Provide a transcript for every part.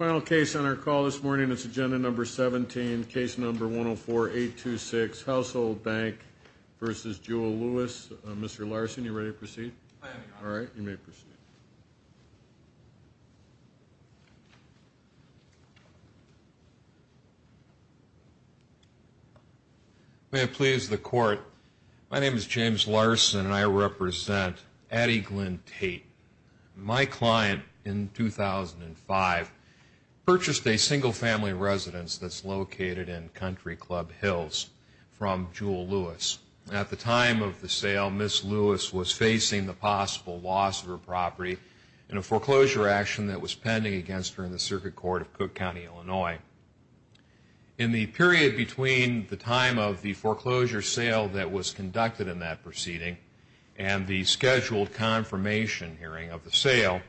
Mr. Larson, are you ready to proceed? I am, Your Honor. All right, you may proceed. May it please the Court, My name is James Larson, and I represent Addie Glynn Tate. My client in 2005 purchased a single-family residence that's located in Country Club Hills from Jewel Lewis. At the time of the sale, Ms. Lewis was facing the possible loss of her property in a foreclosure action that was pending against her in the Circuit Court of Cook County, Illinois. In the period between the time of the foreclosure sale that was conducted in that proceeding and the scheduled confirmation hearing of the sale,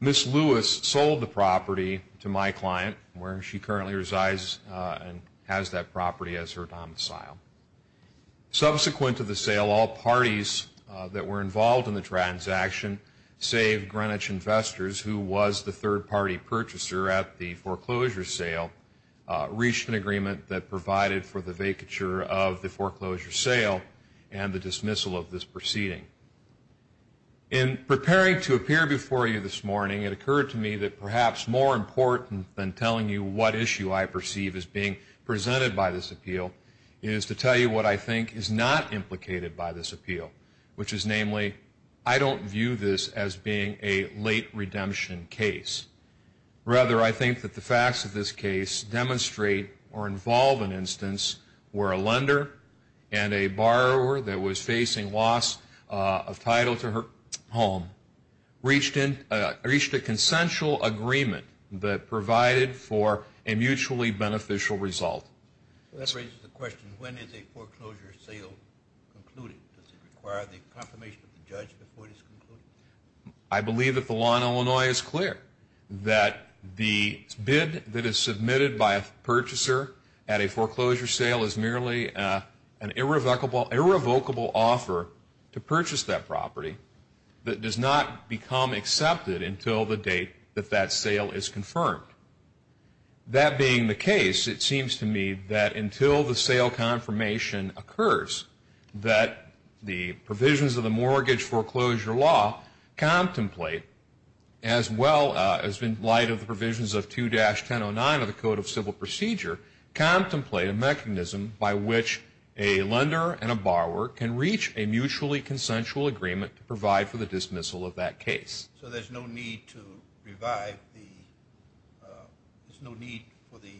Ms. Lewis sold the property to my client, where she currently resides and has that property as her domicile. Subsequent to the sale, all parties that were involved in the transaction, save Greenwich Investors, who was the third-party purchaser at the foreclosure sale, reached an agreement that provided for the vacature of the foreclosure sale and the dismissal of this proceeding. In preparing to appear before you this morning, it occurred to me that perhaps more important than telling you what issue I perceive as being presented by this appeal is to tell you what I think is not implicated by this appeal, which is namely, I don't view this as being a late redemption case. Rather, I think that the facts of this case demonstrate or involve an instance where a lender and a borrower that was facing loss of title to her home reached a consensual agreement that provided for a mutually beneficial result. That raises the question, when is a foreclosure sale concluded? Does it require the confirmation of the judge before it is concluded? I believe that the law in Illinois is clear, that the bid that is submitted by a purchaser at a foreclosure sale is merely an irrevocable offer to purchase that property that does not become accepted until the date that that sale is confirmed. That being the case, it seems to me that until the sale confirmation occurs, that the provisions of the mortgage foreclosure law contemplate, as well as in light of the provisions of 2-1009 of the Code of Civil Procedure, contemplate a mechanism by which a lender and a borrower can reach a mutually consensual agreement to provide for the dismissal of that case. So there's no need to revive the, there's no need for the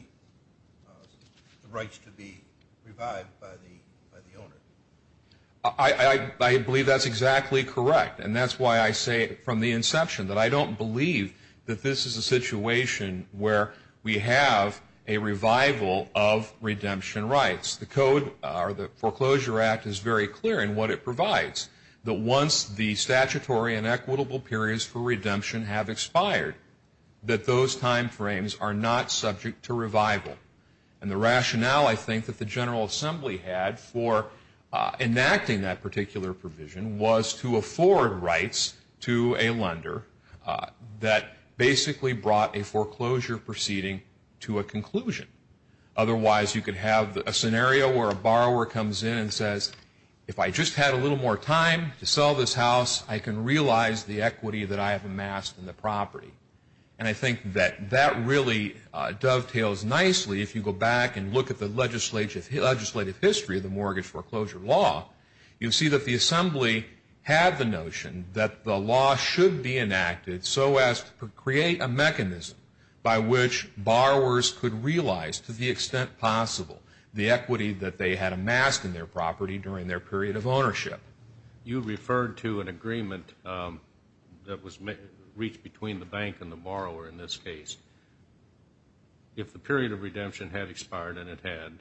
rights to be revived by the owner? I believe that's exactly correct. And that's why I say from the inception that I don't believe that this is a situation where we have a revival of redemption rights. The Code or the Foreclosure Act is very clear in what it provides, that once the statutory and equitable periods for redemption have expired, that those timeframes are not subject to revival. And the rationale I think that the General Assembly had for enacting that particular provision was to afford rights to a lender that basically brought a foreclosure proceeding to a conclusion. Otherwise, you could have a scenario where a borrower comes in and says, if I just had a little more time to sell this house, I can realize the equity that I have amassed in the property. And I think that that really dovetails nicely. If you go back and look at the legislative history of the mortgage foreclosure law, you'll see that the Assembly had the notion that the law should be enacted so as to create a mechanism by which borrowers could realize, to the extent possible, the equity that they had amassed in their property during their period of ownership. You referred to an agreement that was reached between the bank and the borrower in this case. If the period of redemption had expired, and it had,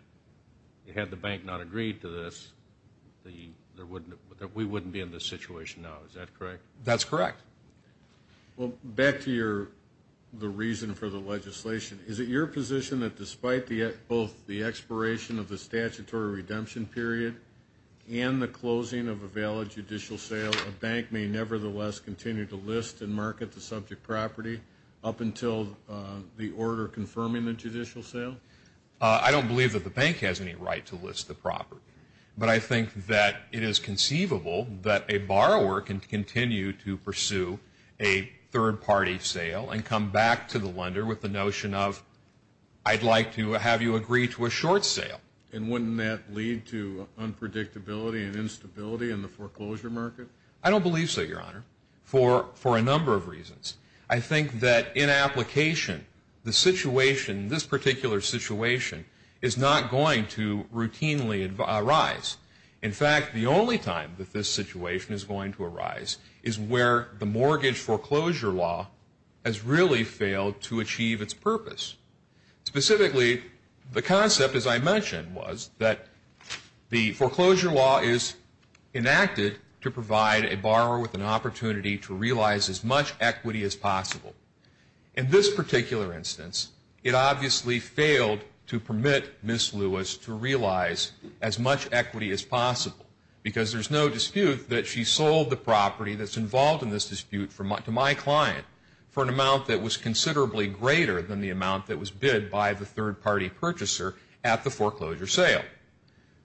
had the bank not agreed to this, we wouldn't be in this situation now. Is that correct? That's correct. Well, back to the reason for the legislation. Is it your position that despite both the expiration of the statutory redemption period and the closing of a valid judicial sale, a bank may nevertheless continue to list and market the subject property up until the order confirming the judicial sale? I don't believe that the bank has any right to list the property. But I think that it is conceivable that a borrower can continue to pursue a third-party sale and come back to the lender with the notion of, I'd like to have you agree to a short sale. And wouldn't that lead to unpredictability and instability in the foreclosure market? I don't believe so, Your Honor, for a number of reasons. I think that in application the situation, this particular situation, is not going to routinely arise. In fact, the only time that this situation is going to arise is where the mortgage foreclosure law has really failed to achieve its purpose. Specifically, the concept, as I mentioned, was that the foreclosure law is enacted to provide a borrower with an opportunity to realize as much equity as possible. In this particular instance, it obviously failed to permit Ms. Lewis to realize as much equity as possible because there's no dispute that she sold the property that's involved in this dispute to my client for an amount that was considerably greater than the amount that was bid by the third-party purchaser at the foreclosure sale.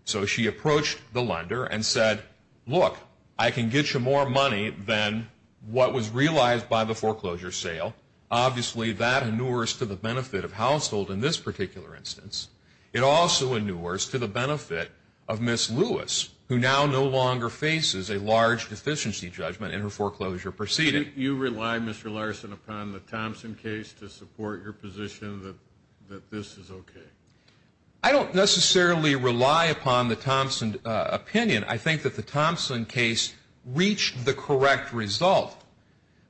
So she approached the lender and said, look, I can get you more money than what was realized by the foreclosure sale. Obviously, that inures to the benefit of household in this particular instance. It also inures to the benefit of Ms. Lewis, who now no longer faces a large deficiency judgment in her foreclosure proceeding. You rely, Mr. Larson, upon the Thompson case to support your position that this is okay? I don't necessarily rely upon the Thompson opinion. I think that the Thompson case reached the correct result,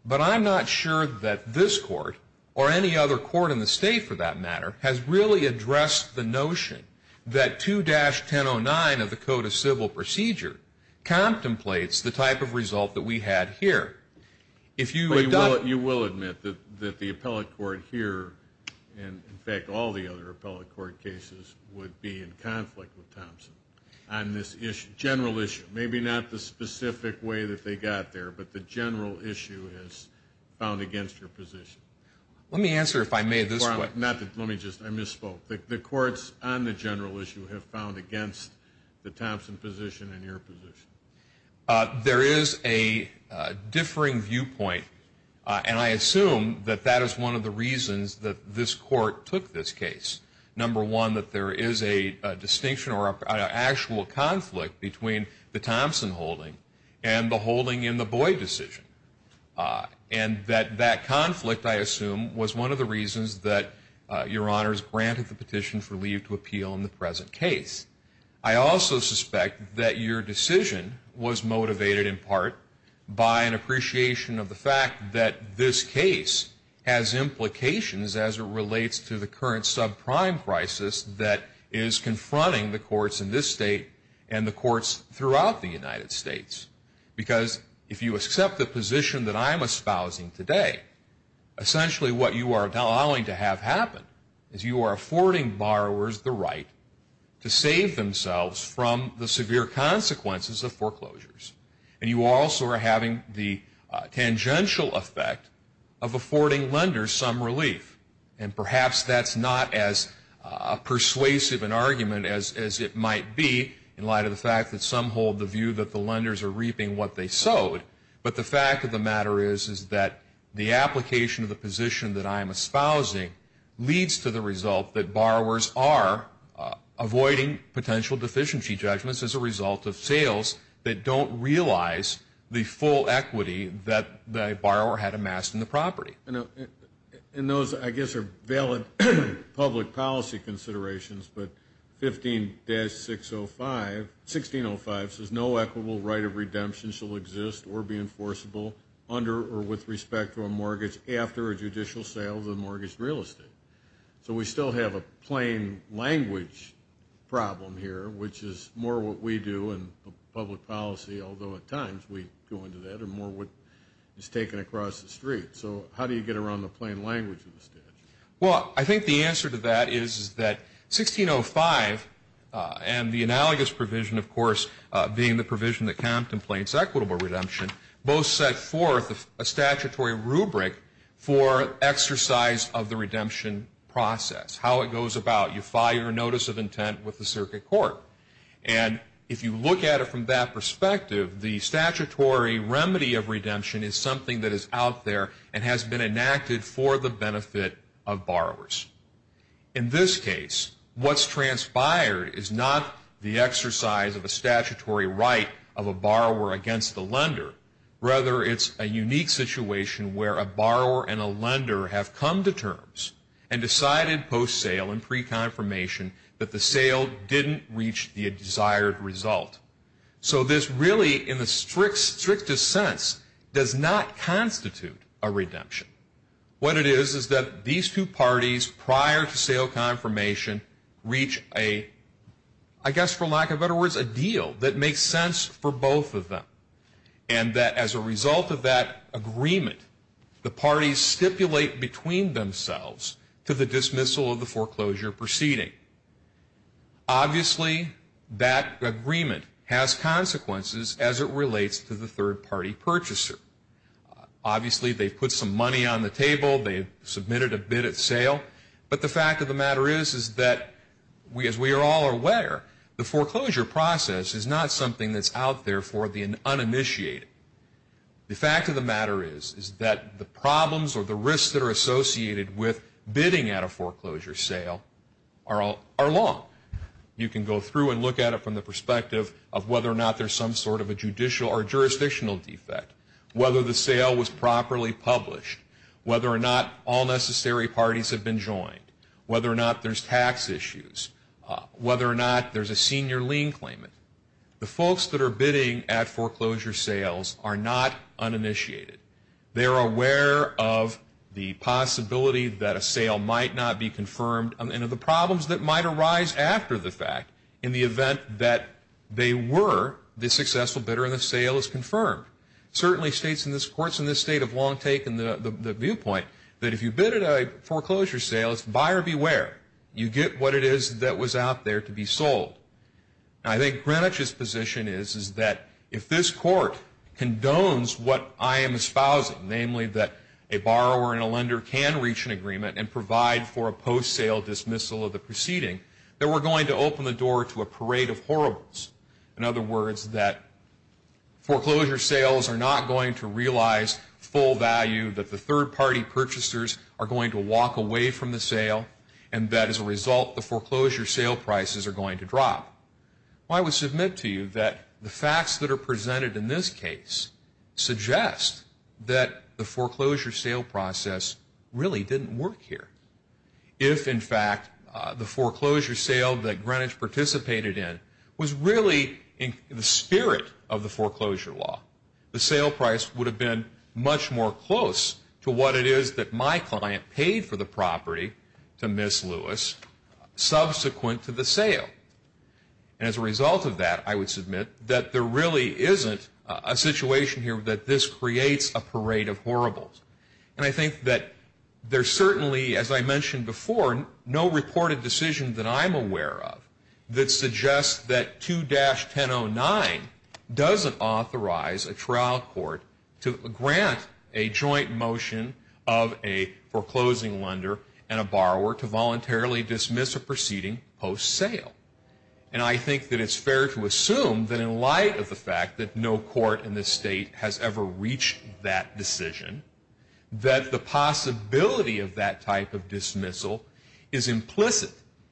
but I'm not sure that this court or any other court in the state, for that matter, has really addressed the notion that 2-1009 of the Code of Civil Procedure contemplates the type of result that we had here. You will admit that the appellate court here and, in fact, all the other appellate court cases would be in conflict with Thompson on this general issue, maybe not the specific way that they got there, but the general issue is found against your position. Let me answer if I may this way. Let me just, I misspoke. The courts on the general issue have found against the Thompson position and your position. There is a differing viewpoint, and I assume that that is one of the reasons that this court took this case. Number one, that there is a distinction or an actual conflict between the Thompson holding and the holding in the Boyd decision, and that that conflict, I assume, was one of the reasons that Your Honors granted the petition for leave to appeal in the present case. I also suspect that your decision was motivated in part by an appreciation of the fact that this case has implications as it relates to the current subprime crisis that is confronting the courts in this state and the courts throughout the United States. Because if you accept the position that I'm espousing today, essentially what you are allowing to have happen is you are affording borrowers the right to save themselves from the severe consequences of foreclosures, and you also are having the tangential effect of affording lenders some relief. And perhaps that's not as persuasive an argument as it might be in light of the fact that some hold the view that the lenders are reaping what they sowed, but the fact of the matter is that the application of the position that I'm espousing leads to the result that borrowers are avoiding potential deficiency judgments as a result of sales that don't realize the full equity that the borrower had amassed in the property. And those, I guess, are valid public policy considerations, but 15-605 says no equitable right of redemption shall exist or be enforceable under or with respect to a mortgage after a judicial sale of the mortgage real estate. So we still have a plain language problem here, which is more what we do in public policy, although at times we go into that, and more what is taken across the street. So how do you get around the plain language of the statute? Well, I think the answer to that is that 1605 and the analogous provision, of course, being the provision that contemplates equitable redemption, both set forth a statutory rubric for exercise of the redemption process, how it goes about. You file your notice of intent with the circuit court. And if you look at it from that perspective, the statutory remedy of redemption is something that is out there and has been enacted for the benefit of borrowers. In this case, what's transpired is not the exercise of a statutory right of a borrower against the lender. Rather, it's a unique situation where a borrower and a lender have come to terms and decided post-sale and pre-confirmation that the sale didn't reach the desired result. So this really, in the strictest sense, does not constitute a redemption. What it is is that these two parties prior to sale confirmation reach a, I guess for lack of better words, a deal that makes sense for both of them, and that as a result of that agreement, the parties stipulate between themselves to the dismissal of the foreclosure proceeding. Obviously, that agreement has consequences as it relates to the third-party purchaser. Obviously, they've put some money on the table. They've submitted a bid at sale. But the fact of the matter is that, as we are all aware, the foreclosure process is not something that's out there for the uninitiated. The fact of the matter is that the problems or the risks that are associated with bidding at a foreclosure sale are long. You can go through and look at it from the perspective of whether or not there's some sort of a judicial or jurisdictional defect, whether the sale was properly published, whether or not all necessary parties have been joined, whether or not there's tax issues, whether or not there's a senior lien claimant. The folks that are bidding at foreclosure sales are not uninitiated. They are aware of the possibility that a sale might not be confirmed and of the problems that might arise after the fact in the event that they were the successful bidder and the sale is confirmed. Certainly, courts in this state have long taken the viewpoint that if you bid at a foreclosure sale, it's buyer beware. You get what it is that was out there to be sold. I think Greenwich's position is that if this court condones what I am espousing, namely that a borrower and a lender can reach an agreement and provide for a post-sale dismissal of the proceeding, then we're going to open the door to a parade of horribles. In other words, that foreclosure sales are not going to realize full value, that the third-party purchasers are going to walk away from the sale, and that as a result the foreclosure sale prices are going to drop. I would submit to you that the facts that are presented in this case suggest that the foreclosure sale process really didn't work here. If, in fact, the foreclosure sale that Greenwich participated in was really in the spirit of the foreclosure law, the sale price would have been much more close to what it is that my client paid for the property to Miss Lewis subsequent to the sale. And as a result of that, I would submit that there really isn't a situation here that this creates a parade of horribles. And I think that there's certainly, as I mentioned before, no reported decision that I'm aware of that suggests that 2-1009 doesn't authorize a trial court to grant a joint motion of a foreclosing lender and a borrower to voluntarily dismiss a proceeding post-sale. And I think that it's fair to assume that in light of the fact that no court in this state has ever reached that decision, that the possibility of that type of dismissal is implicit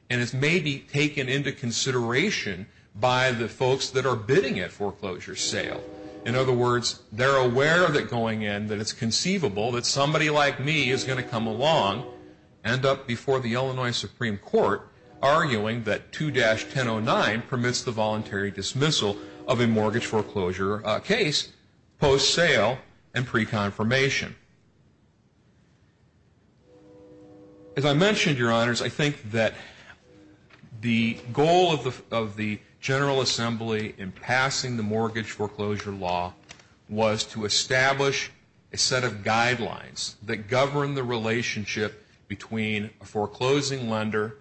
and is maybe taken into consideration by the folks that are bidding at foreclosure sale. In other words, they're aware of it going in, that it's conceivable that somebody like me is going to come along and end up before the Illinois Supreme Court arguing that 2-1009 permits the voluntary dismissal of a mortgage foreclosure case post-sale and pre-confirmation. As I mentioned, Your Honors, I think that the goal of the General Assembly in passing the mortgage foreclosure law was to establish a set of guidelines that govern the relationship between a foreclosing lender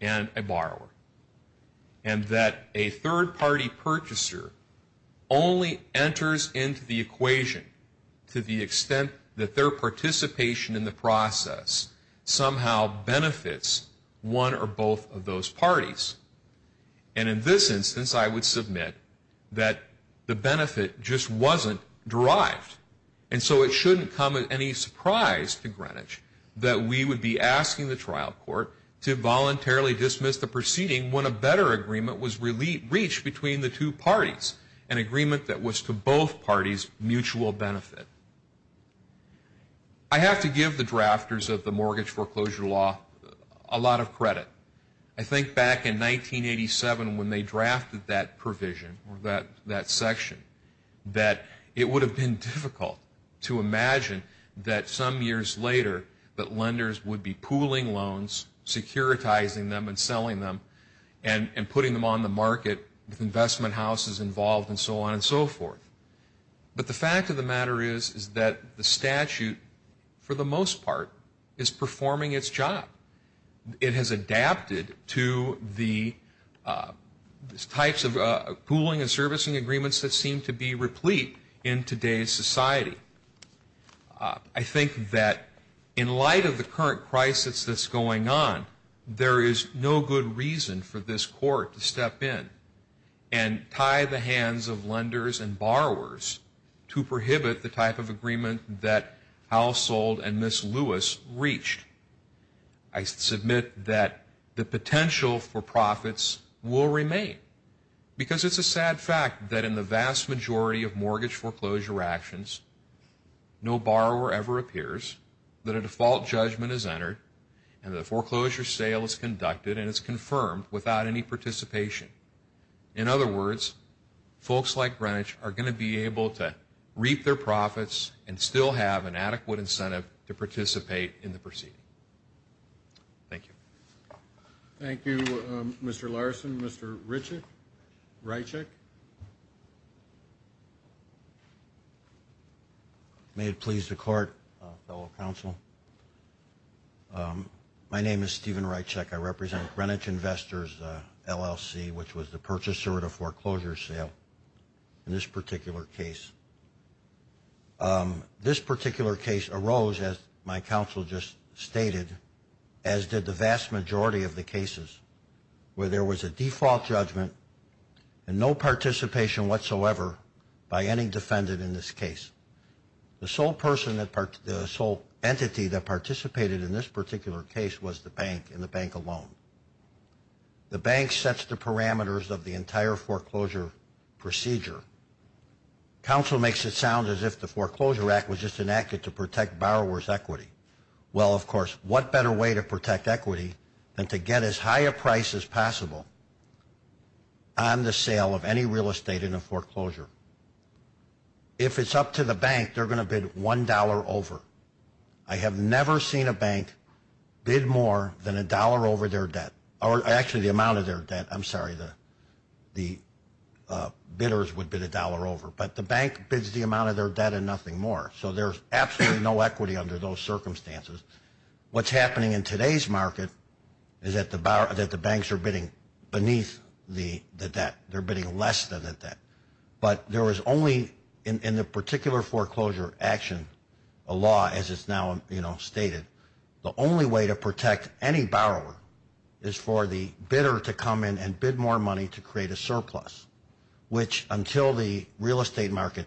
and a borrower and that a third-party purchaser only enters into the equation to the extent that their participation in the process somehow benefits one or both of those parties. And in this instance, I would submit that the benefit just wasn't derived. And so it shouldn't come as any surprise to Greenwich that we would be asking the trial court to voluntarily dismiss the proceeding when a better agreement was reached between the two parties, an agreement that was to both parties' mutual benefit. I have to give the drafters of the mortgage foreclosure law a lot of credit. I think back in 1987 when they drafted that provision or that section, that it would have been difficult to imagine that some years later that lenders would be pooling loans, securitizing them and selling them and putting them on the market with investment houses involved and so on and so forth. But the fact of the matter is that the statute, for the most part, is performing its job. It has adapted to the types of pooling and servicing agreements that seem to be replete in today's society. I think that in light of the current crisis that's going on, there is no good reason for this court to step in and tie the hands of lenders to prohibit the type of agreement that Household and Ms. Lewis reached. I submit that the potential for profits will remain, because it's a sad fact that in the vast majority of mortgage foreclosure actions, no borrower ever appears, that a default judgment is entered, and that a foreclosure sale is conducted and is confirmed without any participation. In other words, folks like Greenwich are going to be able to reap their profits and still have an adequate incentive to participate in the proceeding. Thank you. Thank you, Mr. Larson. Mr. Rychek? May it please the Court, fellow counsel, my name is Stephen Rychek. I represent Greenwich Investors, LLC, which was the purchaser of the foreclosure sale in this particular case. This particular case arose, as my counsel just stated, as did the vast majority of the cases where there was a default judgment and no participation whatsoever by any defendant in this case. The sole entity that participated in this particular case was the bank, and the bank alone. The bank sets the parameters of the entire foreclosure procedure. Counsel makes it sound as if the Foreclosure Act was just enacted to protect borrower's equity. Well, of course, what better way to protect equity than to get as high a price as possible on the sale of any real estate in a foreclosure? If it's up to the bank, they're going to bid $1 over. I have never seen a bank bid more than $1 over their debt, or actually the amount of their debt. I'm sorry, the bidders would bid $1 over. But the bank bids the amount of their debt and nothing more. So there's absolutely no equity under those circumstances. What's happening in today's market is that the banks are bidding beneath the debt. They're bidding less than the debt. But there is only in the particular foreclosure action, a law as it's now stated, the only way to protect any borrower is for the bidder to come in and bid more money to create a surplus, which until the real estate market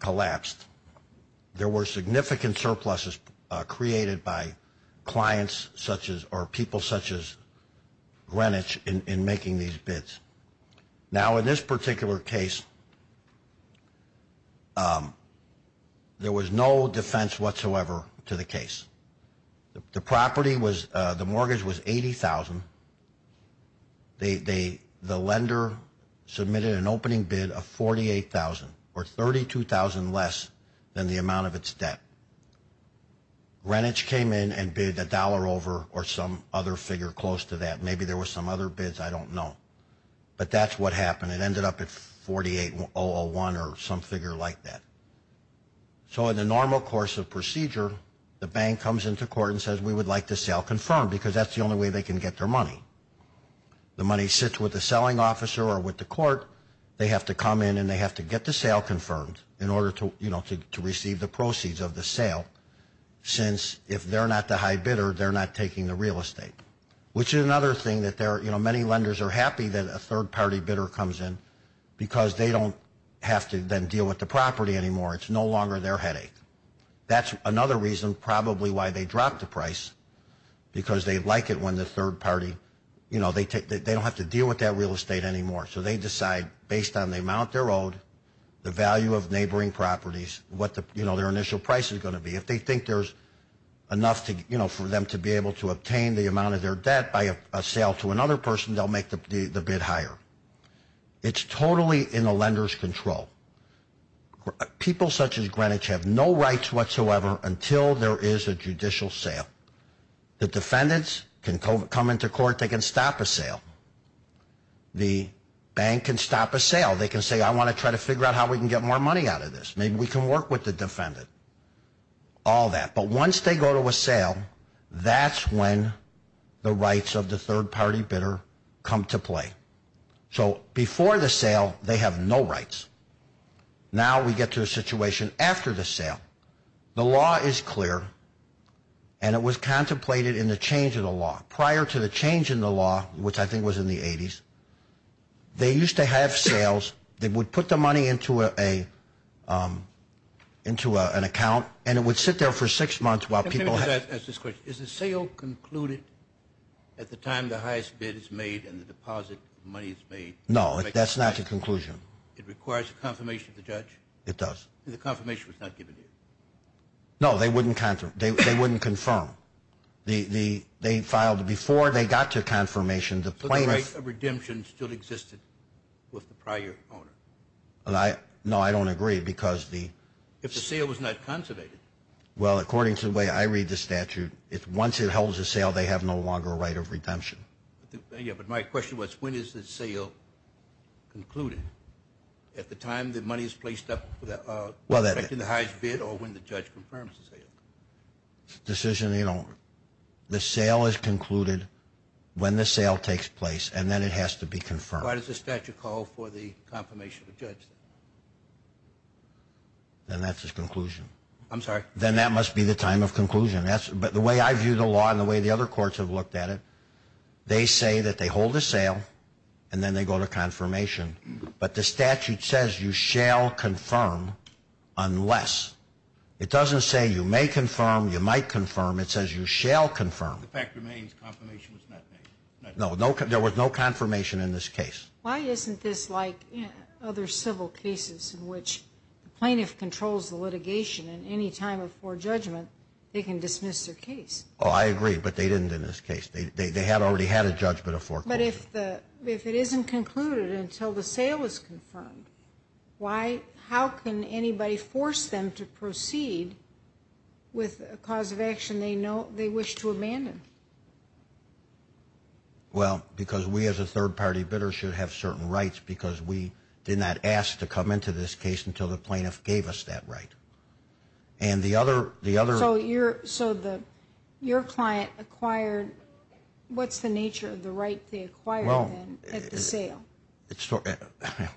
collapsed, there were significant surpluses created by clients or people such as Greenwich in making these bids. Now, in this particular case, there was no defense whatsoever to the case. The property was, the mortgage was $80,000. The lender submitted an opening bid of $48,000 or $32,000 less than the amount of its debt. Greenwich came in and bid $1 over or some other figure close to that. Maybe there were some other bids. I don't know. But that's what happened. It ended up at $48,001 or some figure like that. So in the normal course of procedure, the bank comes into court and says, we would like the sale confirmed because that's the only way they can get their money. The money sits with the selling officer or with the court. They have to come in and they have to get the sale confirmed in order to receive the proceeds of the sale since if they're not the high bidder, they're not taking the real estate, which is another thing that many lenders are happy that a third-party bidder comes in because they don't have to then deal with the property anymore. It's no longer their headache. That's another reason probably why they dropped the price because they like it when the third party, they don't have to deal with that real estate anymore. So they decide based on the amount they're owed, the value of neighboring properties, what their initial price is going to be. If they think there's enough for them to be able to obtain the amount of their debt by a sale to another person, they'll make the bid higher. It's totally in the lender's control. People such as Greenwich have no rights whatsoever until there is a judicial sale. The defendants can come into court. They can stop a sale. The bank can stop a sale. They can say, I want to try to figure out how we can get more money out of this. Maybe we can work with the defendant, all that. But once they go to a sale, that's when the rights of the third-party bidder come to play. So before the sale, they have no rights. Now we get to a situation after the sale. The law is clear, and it was contemplated in the change of the law. Prior to the change in the law, which I think was in the 80s, they used to have sales. They would put the money into an account, and it would sit there for six months while people had it. Let me just ask this question. Is the sale concluded at the time the highest bid is made and the deposit money is made? No, that's not the conclusion. It requires a confirmation of the judge? It does. The confirmation was not given here? No, they wouldn't confirm. They filed before they got to confirmation. So the right of redemption still existed with the prior owner? No, I don't agree. If the sale was not conservated? Well, according to the way I read the statute, once it holds a sale, they have no longer a right of redemption. Yeah, but my question was, when is the sale concluded? At the time the money is placed up for the highest bid or when the judge confirms the sale? Decision, you know, the sale is concluded when the sale takes place, and then it has to be confirmed. Why does the statute call for the confirmation of the judge? Then that's his conclusion. I'm sorry? Then that must be the time of conclusion. But the way I view the law and the way the other courts have looked at it, they say that they hold a sale, and then they go to confirmation. But the statute says you shall confirm unless. It doesn't say you may confirm, you might confirm. It says you shall confirm. The fact remains confirmation was not made. No, there was no confirmation in this case. Why isn't this like other civil cases in which the plaintiff controls the litigation, and any time of forejudgment, they can dismiss their case? Oh, I agree, but they didn't in this case. They had already had a judgment of forecourt. But if it isn't concluded until the sale is confirmed, how can anybody force them to proceed with a cause of action they wish to abandon? Well, because we as a third-party bidder should have certain rights because we did not ask to come into this case until the plaintiff gave us that right. So your client acquired, what's the nature of the right they acquired then at the sale?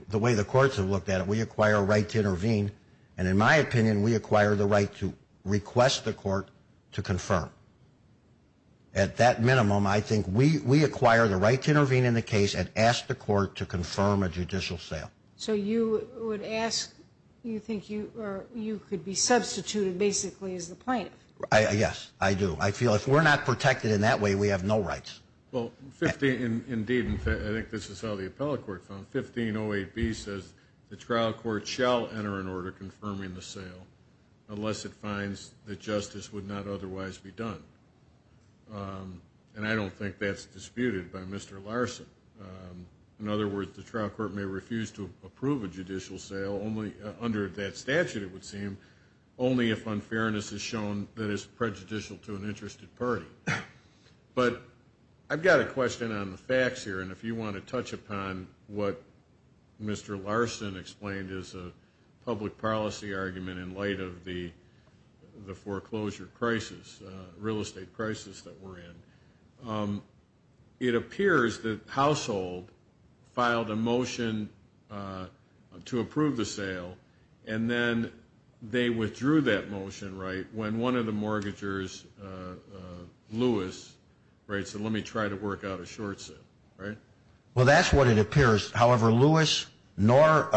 The way the courts have looked at it, we acquire a right to intervene, and in my opinion, we acquire the right to request the court to confirm. At that minimum, I think we acquire the right to intervene in the case and ask the court to confirm a judicial sale. So you would ask, you think you could be substituted basically as the plaintiff? Yes, I do. I feel if we're not protected in that way, we have no rights. Well, indeed, I think this is how the appellate court found it. 1508B says the trial court shall enter an order confirming the sale unless it finds that justice would not otherwise be done. And I don't think that's disputed by Mr. Larson. In other words, the trial court may refuse to approve a judicial sale under that statute, it would seem, only if unfairness is shown that is prejudicial to an interested party. But I've got a question on the facts here, and if you want to touch upon what Mr. Larson explained as a public policy argument in light of the foreclosure crisis, real estate crisis that we're in, it appears that Household filed a motion to approve the sale, and then they withdrew that motion, right, when one of the mortgagers, Lewis, right, said let me try to work out a short sale, right? Well, that's what it appears. However, Lewis nor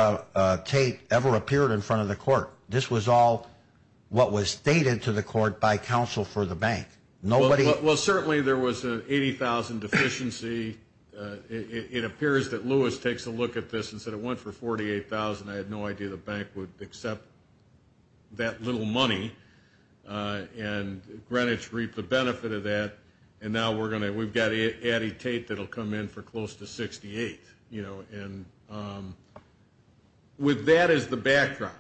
Tate ever appeared in front of the court. This was all what was stated to the court by counsel for the bank. Well, certainly there was an $80,000 deficiency. It appears that Lewis takes a look at this and said it went for $48,000. I had no idea the bank would accept that little money, and Greenwich reaped the benefit of that, and now we've got Addie Tate that will come in for close to $68,000. You know, and with that as the backdrop,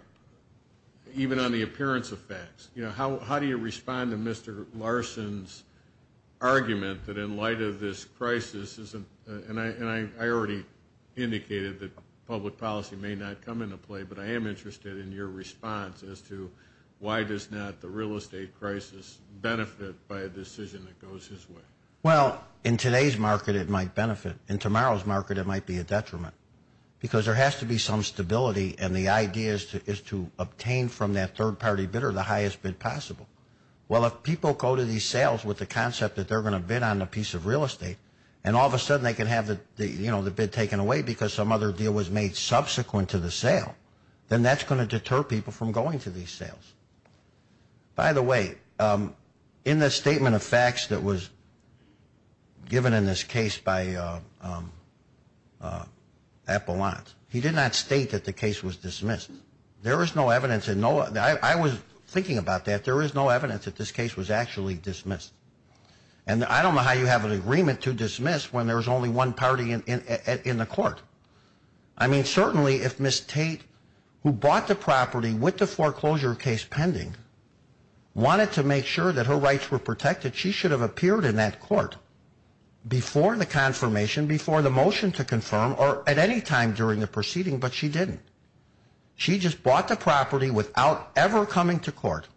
even on the appearance of facts, you know, how do you respond to Mr. Larson's argument that in light of this crisis isn't, and I already indicated that public policy may not come into play, but I am interested in your response as to why does not the real estate crisis benefit by a decision that goes his way? Well, in today's market it might benefit. In tomorrow's market it might be a detriment because there has to be some stability, and the idea is to obtain from that third-party bidder the highest bid possible. Well, if people go to these sales with the concept that they're going to bid on a piece of real estate and all of a sudden they can have the bid taken away because some other deal was made subsequent to the sale, then that's going to deter people from going to these sales. By the way, in the statement of facts that was given in this case by Appelant, he did not state that the case was dismissed. There is no evidence. I was thinking about that. There is no evidence that this case was actually dismissed, and I don't know how you have an agreement to dismiss when there's only one party in the court. I mean, certainly if Ms. Tate, who bought the property with the foreclosure case pending, wanted to make sure that her rights were protected, she should have appeared in that court before the confirmation, before the motion to confirm, or at any time during the proceeding, but she didn't. She just bought the property without ever coming to court,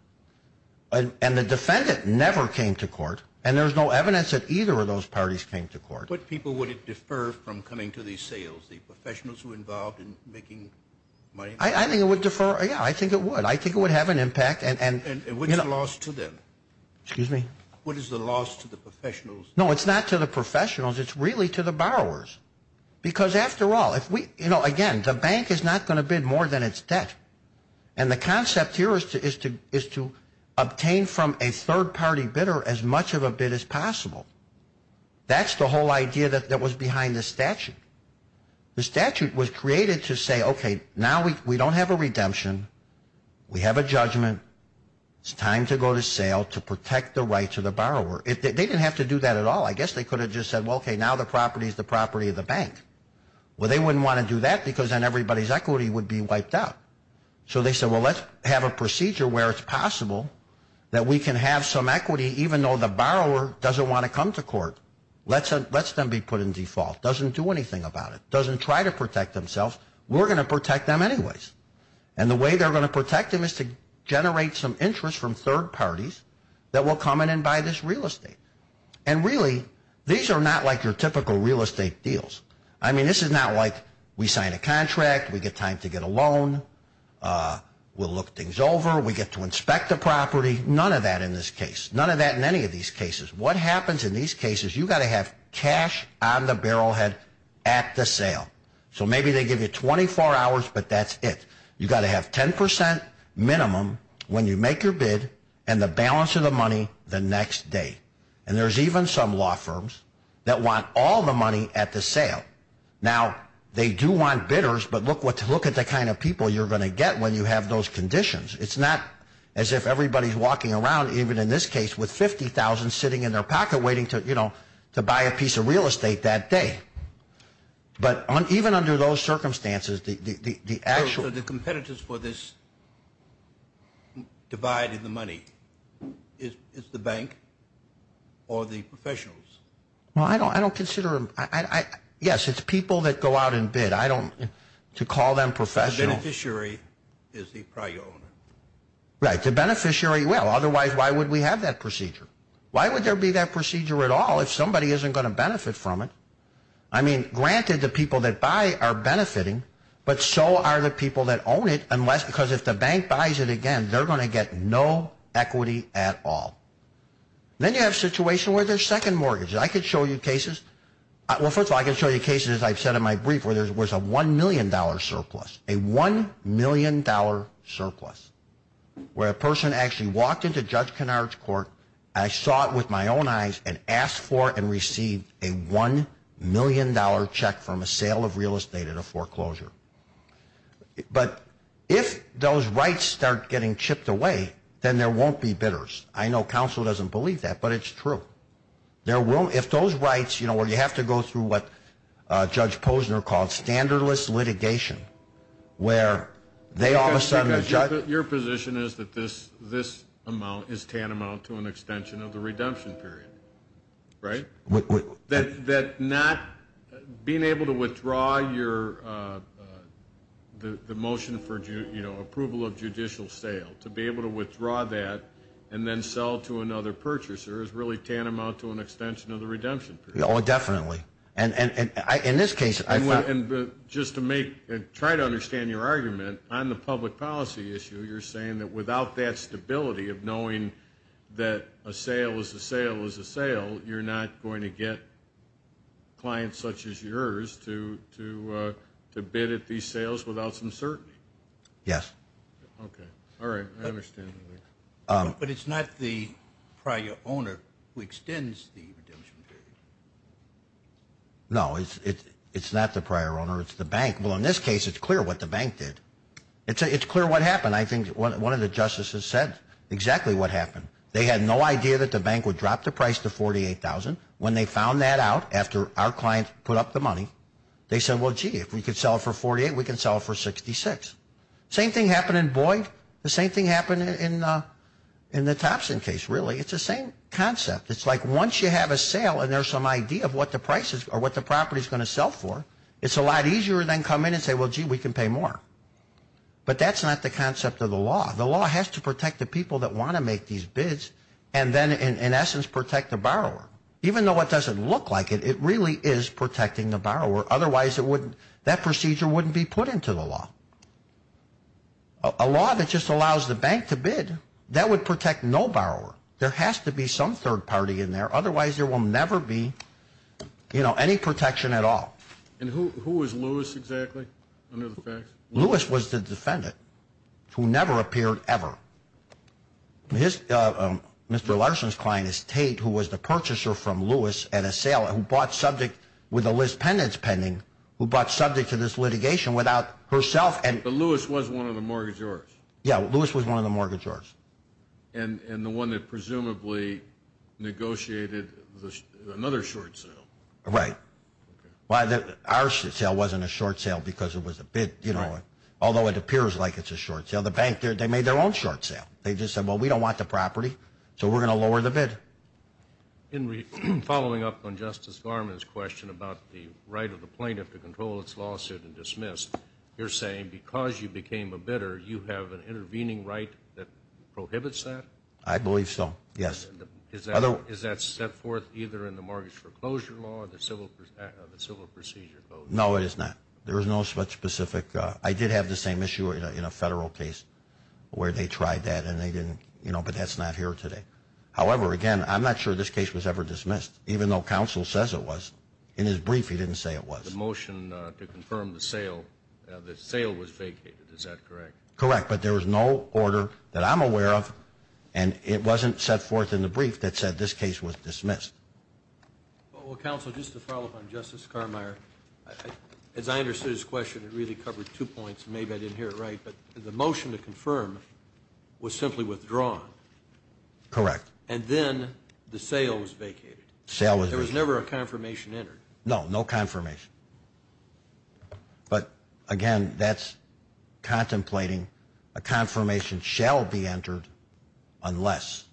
and the defendant never came to court, and there's no evidence that either of those parties came to court. What people would it defer from coming to these sales? The professionals who were involved in making money? I think it would defer. Yeah, I think it would. I think it would have an impact. And what is the loss to them? Excuse me? What is the loss to the professionals? No, it's not to the professionals. It's really to the borrowers because, after all, again, the bank is not going to bid more than its debt, and the concept here is to obtain from a third-party bidder as much of a bid as possible. That's the whole idea that was behind the statute. The statute was created to say, okay, now we don't have a redemption. We have a judgment. It's time to go to sale to protect the rights of the borrower. They didn't have to do that at all. I guess they could have just said, well, okay, now the property is the property of the bank. Well, they wouldn't want to do that because then everybody's equity would be wiped out. So they said, well, let's have a procedure where it's possible that we can have some equity, even though the borrower doesn't want to come to court. Let's them be put in default, doesn't do anything about it, doesn't try to protect themselves. We're going to protect them anyways. And the way they're going to protect them is to generate some interest from third parties that will come in and buy this real estate. And really, these are not like your typical real estate deals. I mean, this is not like we sign a contract, we get time to get a loan, we'll look things over, we get to inspect the property. None of that in this case. None of that in any of these cases. What happens in these cases, you've got to have cash on the barrelhead at the sale. So maybe they give you 24 hours, but that's it. You've got to have 10% minimum when you make your bid and the balance of the money the next day. And there's even some law firms that want all the money at the sale. Now, they do want bidders, but look at the kind of people you're going to get when you have those conditions. It's not as if everybody's walking around, even in this case, with $50,000 sitting in their pocket waiting to buy a piece of real estate that day. But even under those circumstances, the actual – So the competitors for this divide in the money is the bank or the professionals? Well, I don't consider – yes, it's people that go out and bid. I don't – to call them professionals – Right, the beneficiary will. Otherwise, why would we have that procedure? Why would there be that procedure at all if somebody isn't going to benefit from it? I mean, granted, the people that buy are benefiting, but so are the people that own it unless – because if the bank buys it again, they're going to get no equity at all. Then you have a situation where there's second mortgages. I could show you cases – well, first of all, I can show you cases, as I've said in my brief, where there was a $1 million surplus, a $1 million surplus, where a person actually walked into Judge Kennard's court, I saw it with my own eyes, and asked for and received a $1 million check from a sale of real estate at a foreclosure. But if those rights start getting chipped away, then there won't be bidders. I know counsel doesn't believe that, but it's true. If those rights – well, you have to go through what Judge Posner called standardless litigation, where they all of a sudden – Your position is that this amount is tantamount to an extension of the redemption period, right? That not – being able to withdraw the motion for approval of judicial sale, to be able to withdraw that and then sell to another purchaser, is really tantamount to an extension of the redemption period. Oh, definitely. And in this case – Just to make – try to understand your argument, on the public policy issue, you're saying that without that stability of knowing that a sale is a sale is a sale, you're not going to get clients such as yours to bid at these sales without some certainty? Yes. Okay. All right. I understand. But it's not the prior owner who extends the redemption period? No, it's not the prior owner. It's the bank. Well, in this case, it's clear what the bank did. It's clear what happened. I think one of the justices said exactly what happened. They had no idea that the bank would drop the price to $48,000. When they found that out, after our client put up the money, they said, Same thing happened in Boyd. The same thing happened in the Thompson case, really. It's the same concept. It's like once you have a sale and there's some idea of what the price is or what the property is going to sell for, it's a lot easier to then come in and say, well, gee, we can pay more. But that's not the concept of the law. The law has to protect the people that want to make these bids and then, in essence, protect the borrower. Even though it doesn't look like it, it really is protecting the borrower. That procedure wouldn't be put into the law. A law that just allows the bank to bid, that would protect no borrower. There has to be some third party in there. Otherwise, there will never be any protection at all. And who was Lewis exactly under the facts? Lewis was the defendant who never appeared ever. Mr. Larson's client is Tate, who was the purchaser from Lewis at a sale who bought subject with a list pendants pending, who bought subject to this litigation without herself. But Lewis was one of the mortgagors. Yeah, Lewis was one of the mortgagors. And the one that presumably negotiated another short sale. Right. Our short sale wasn't a short sale because it was a bid, although it appears like it's a short sale. The bank, they made their own short sale. They just said, well, we don't want the property, so we're going to lower the bid. In following up on Justice Garmon's question about the right of the plaintiff to control its lawsuit and dismiss, you're saying because you became a bidder, you have an intervening right that prohibits that? I believe so, yes. Is that set forth either in the mortgage foreclosure law or the civil procedure code? No, it is not. There is no specific. I did have the same issue in a federal case where they tried that, but that's not here today. However, again, I'm not sure this case was ever dismissed, even though counsel says it was. In his brief, he didn't say it was. The motion to confirm the sale, the sale was vacated. Is that correct? Correct, but there was no order that I'm aware of, and it wasn't set forth in the brief that said this case was dismissed. Counsel, just to follow up on Justice Carmeier, as I understood his question, it really covered two points, and maybe I didn't hear it right, but the motion to confirm was simply withdrawn. Correct. And then the sale was vacated. The sale was vacated. There was never a confirmation entered. No, no confirmation. But, again, that's contemplating a confirmation shall be entered unless.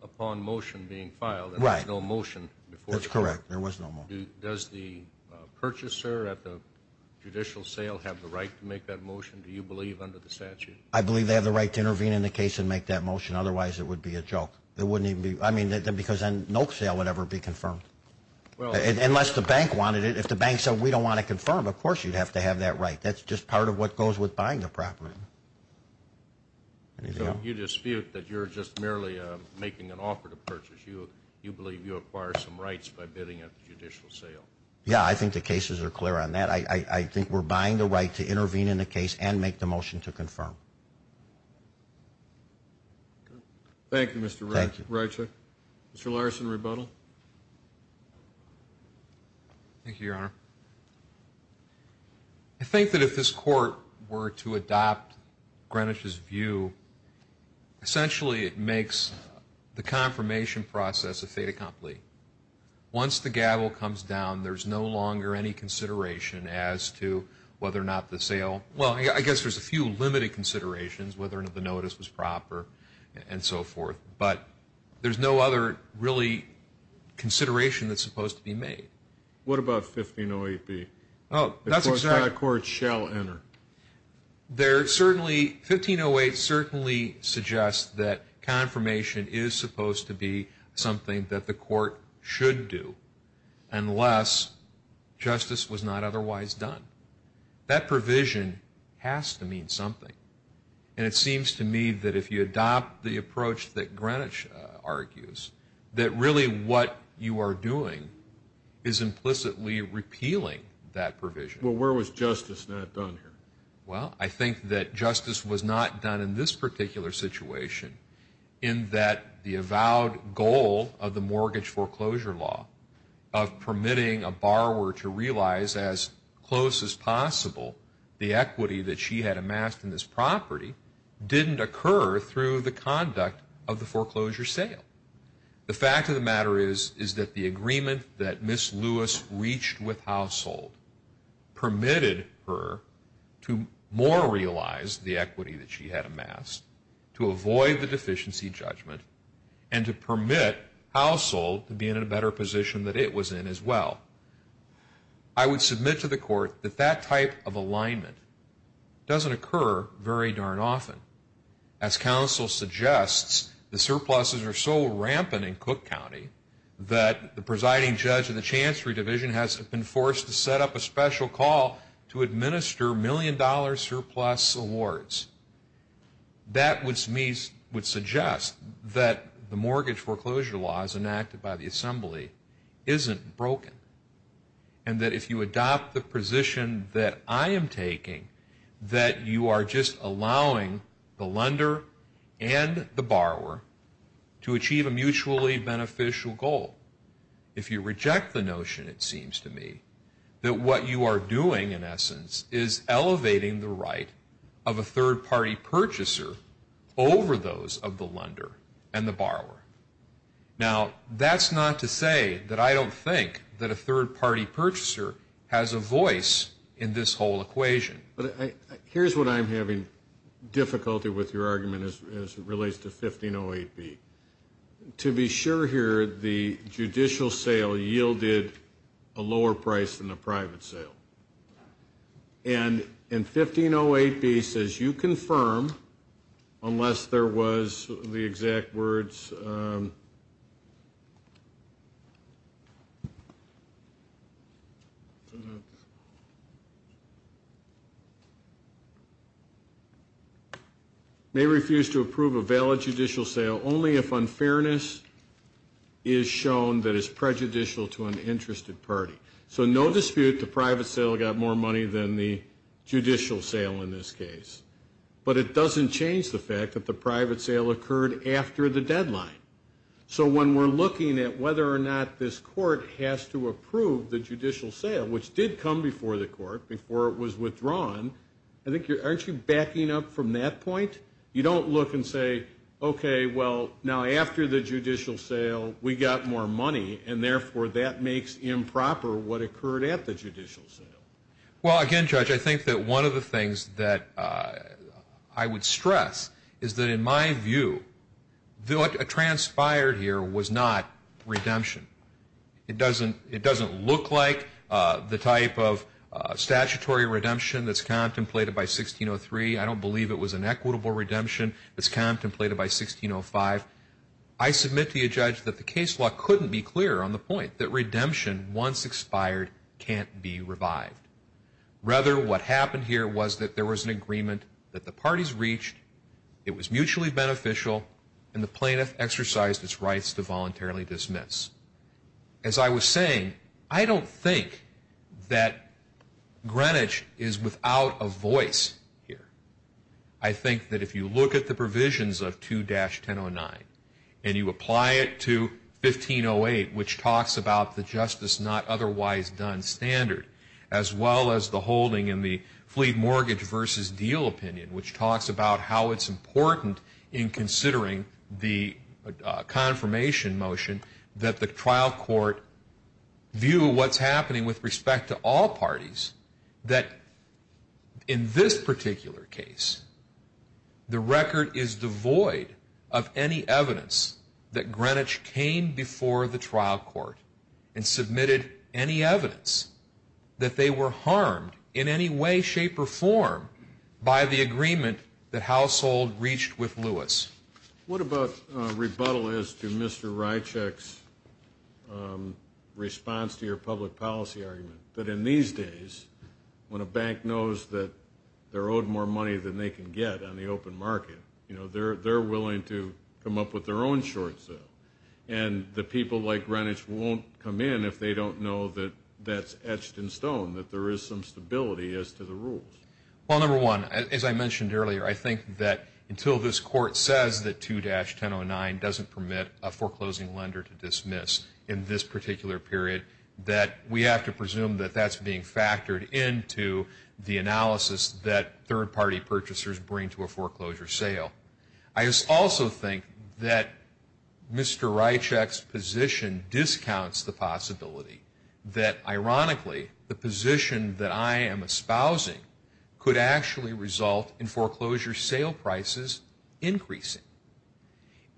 Upon motion being filed, there was no motion before the court. That's correct. There was no motion. Does the purchaser at the judicial sale have the right to make that motion? Do you believe under the statute? I believe they have the right to intervene in the case and make that motion. Otherwise, it would be a joke. It wouldn't even be. I mean, because then no sale would ever be confirmed. Unless the bank wanted it. If the bank said we don't want to confirm, of course you'd have to have that right. That's just part of what goes with buying the property. So you dispute that you're just merely making an offer to purchase. You believe you acquire some rights by bidding at the judicial sale. Yeah, I think the cases are clear on that. I think we're buying the right to intervene in the case and make the motion to confirm. Thank you, Mr. Reichert. Mr. Larson, rebuttal. Thank you, Your Honor. I think that if this court were to adopt Greenwich's view, essentially it makes the confirmation process a fait accompli. Once the gavel comes down, there's no longer any consideration as to whether or not the sale. Well, I guess there's a few limited considerations, whether or not the notice was proper and so forth. But there's no other really consideration that's supposed to be made. What about 1508B? Oh, that's exactly. The court shall enter. There certainly, 1508 certainly suggests that confirmation is supposed to be something that the court should do, unless justice was not otherwise done. That provision has to mean something. And it seems to me that if you adopt the approach that Greenwich argues, that really what you are doing is implicitly repealing that provision. Well, where was justice not done here? Well, I think that justice was not done in this particular situation, in that the avowed goal of the mortgage foreclosure law, of permitting a borrower to realize as close as possible the equity that she had amassed in this property, didn't occur through the conduct of the foreclosure sale. The fact of the matter is that the agreement that Ms. Lewis reached with Household permitted her to more realize the equity that she had amassed, to avoid the deficiency judgment, and to permit Household to be in a better position that it was in as well. I would submit to the court that that type of alignment doesn't occur very darn often. As counsel suggests, the surpluses are so rampant in Cook County that the presiding judge in the Chancery Division has been forced to set up a special call to administer million-dollar surplus awards. That would suggest that the mortgage foreclosure law, as enacted by the Assembly, isn't broken. And that if you adopt the position that I am taking, that you are just allowing the lender and the borrower to achieve a mutually beneficial goal. If you reject the notion, it seems to me, that what you are doing, in essence, is elevating the right of a third-party purchaser over those of the lender and the borrower. Now, that's not to say that I don't think that a third-party purchaser has a voice in this whole equation. But here's what I'm having difficulty with your argument as it relates to 1508B. To be sure here, the judicial sale yielded a lower price than the private sale. And 1508B says, you confirm, unless there was the exact words, may refuse to approve a valid judicial sale only if unfairness is shown that is prejudicial to an interested party. So no dispute, the private sale got more money than the judicial sale in this case. But it doesn't change the fact that the private sale occurred after the deadline. So when we're looking at whether or not this court has to approve the judicial sale, which did come before the court, before it was withdrawn, aren't you backing up from that point? You don't look and say, okay, well, now after the judicial sale, we got more money, and therefore that makes improper what occurred at the judicial sale. Well, again, Judge, I think that one of the things that I would stress is that in my view, what transpired here was not redemption. It doesn't look like the type of statutory redemption that's contemplated by 1603. I don't believe it was an equitable redemption that's contemplated by 1605. I submit to you, Judge, that the case law couldn't be clearer on the point that redemption once expired can't be revived. Rather, what happened here was that there was an agreement that the parties reached, it was mutually beneficial, and the plaintiff exercised its rights to voluntarily dismiss. As I was saying, I don't think that Greenwich is without a voice here. I think that if you look at the provisions of 2-1009 and you apply it to 1508, which talks about the justice not otherwise done standard, as well as the holding in the fleet mortgage versus deal opinion, which talks about how it's important in considering the confirmation motion, that the trial court view what's happening with respect to all parties, that in this particular case, the record is devoid of any evidence that Greenwich came before the trial court and submitted any evidence that they were harmed in any way, shape, or form, by the agreement that Household reached with Lewis. What about rebuttal as to Mr. Rychek's response to your public policy argument? That in these days, when a bank knows that they're owed more money than they can get on the open market, they're willing to come up with their own short sale. And the people like Greenwich won't come in if they don't know that that's etched in stone, that there is some stability as to the rules. Well, number one, as I mentioned earlier, I think that until this court says that 2-1009 doesn't permit a foreclosing lender to dismiss in this particular period, that we have to presume that that's being factored into the analysis that third-party purchasers bring to a foreclosure sale. I also think that Mr. Rychek's position discounts the possibility that, ironically, the position that I am espousing could actually result in foreclosure sale prices increasing.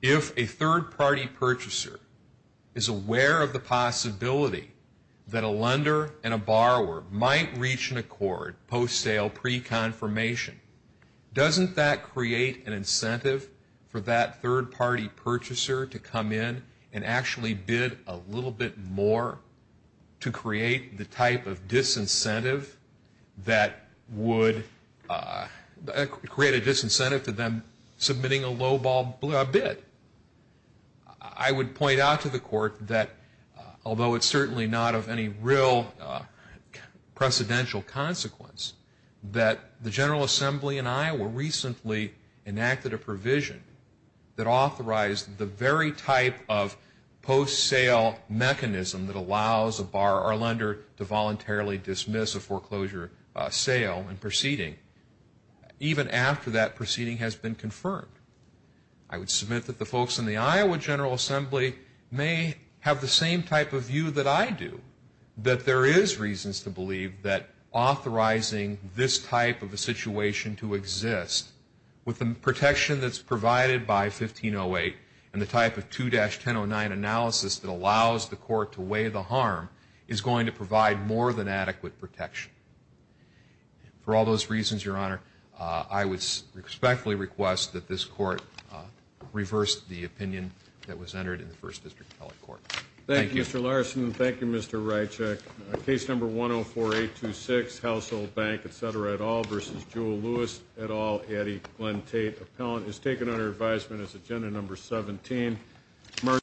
If a third-party purchaser is aware of the possibility that a lender and a borrower might reach an accord post-sale pre-confirmation, doesn't that create an incentive for that third-party purchaser to come in and actually bid a little bit more to create the type of disincentive that would create a disincentive to them submitting a lowball bid? I would point out to the court that, although it's certainly not of any real precedential consequence, that the General Assembly in Iowa recently enacted a provision that authorized the very type of post-sale mechanism that allows a borrower or lender to voluntarily dismiss a foreclosure sale in proceeding. Even after that proceeding has been confirmed. I would submit that the folks in the Iowa General Assembly may have the same type of view that I do, that there is reasons to believe that authorizing this type of a situation to exist with the protection that's provided by 1508 and the type of 2-1009 analysis that allows the court to weigh the harm is going to provide more than adequate protection. For all those reasons, Your Honor, I would respectfully request that this court reverse the opinion that was entered in the First District Appellate Court. Thank you. Thank you, Mr. Larson. Thank you, Mr. Rychek. Case number 104-826, Household Bank, etc. et al. versus Jewel Lewis et al., Eddie Glenn Tate Appellant, is taken under advisement as agenda number 17.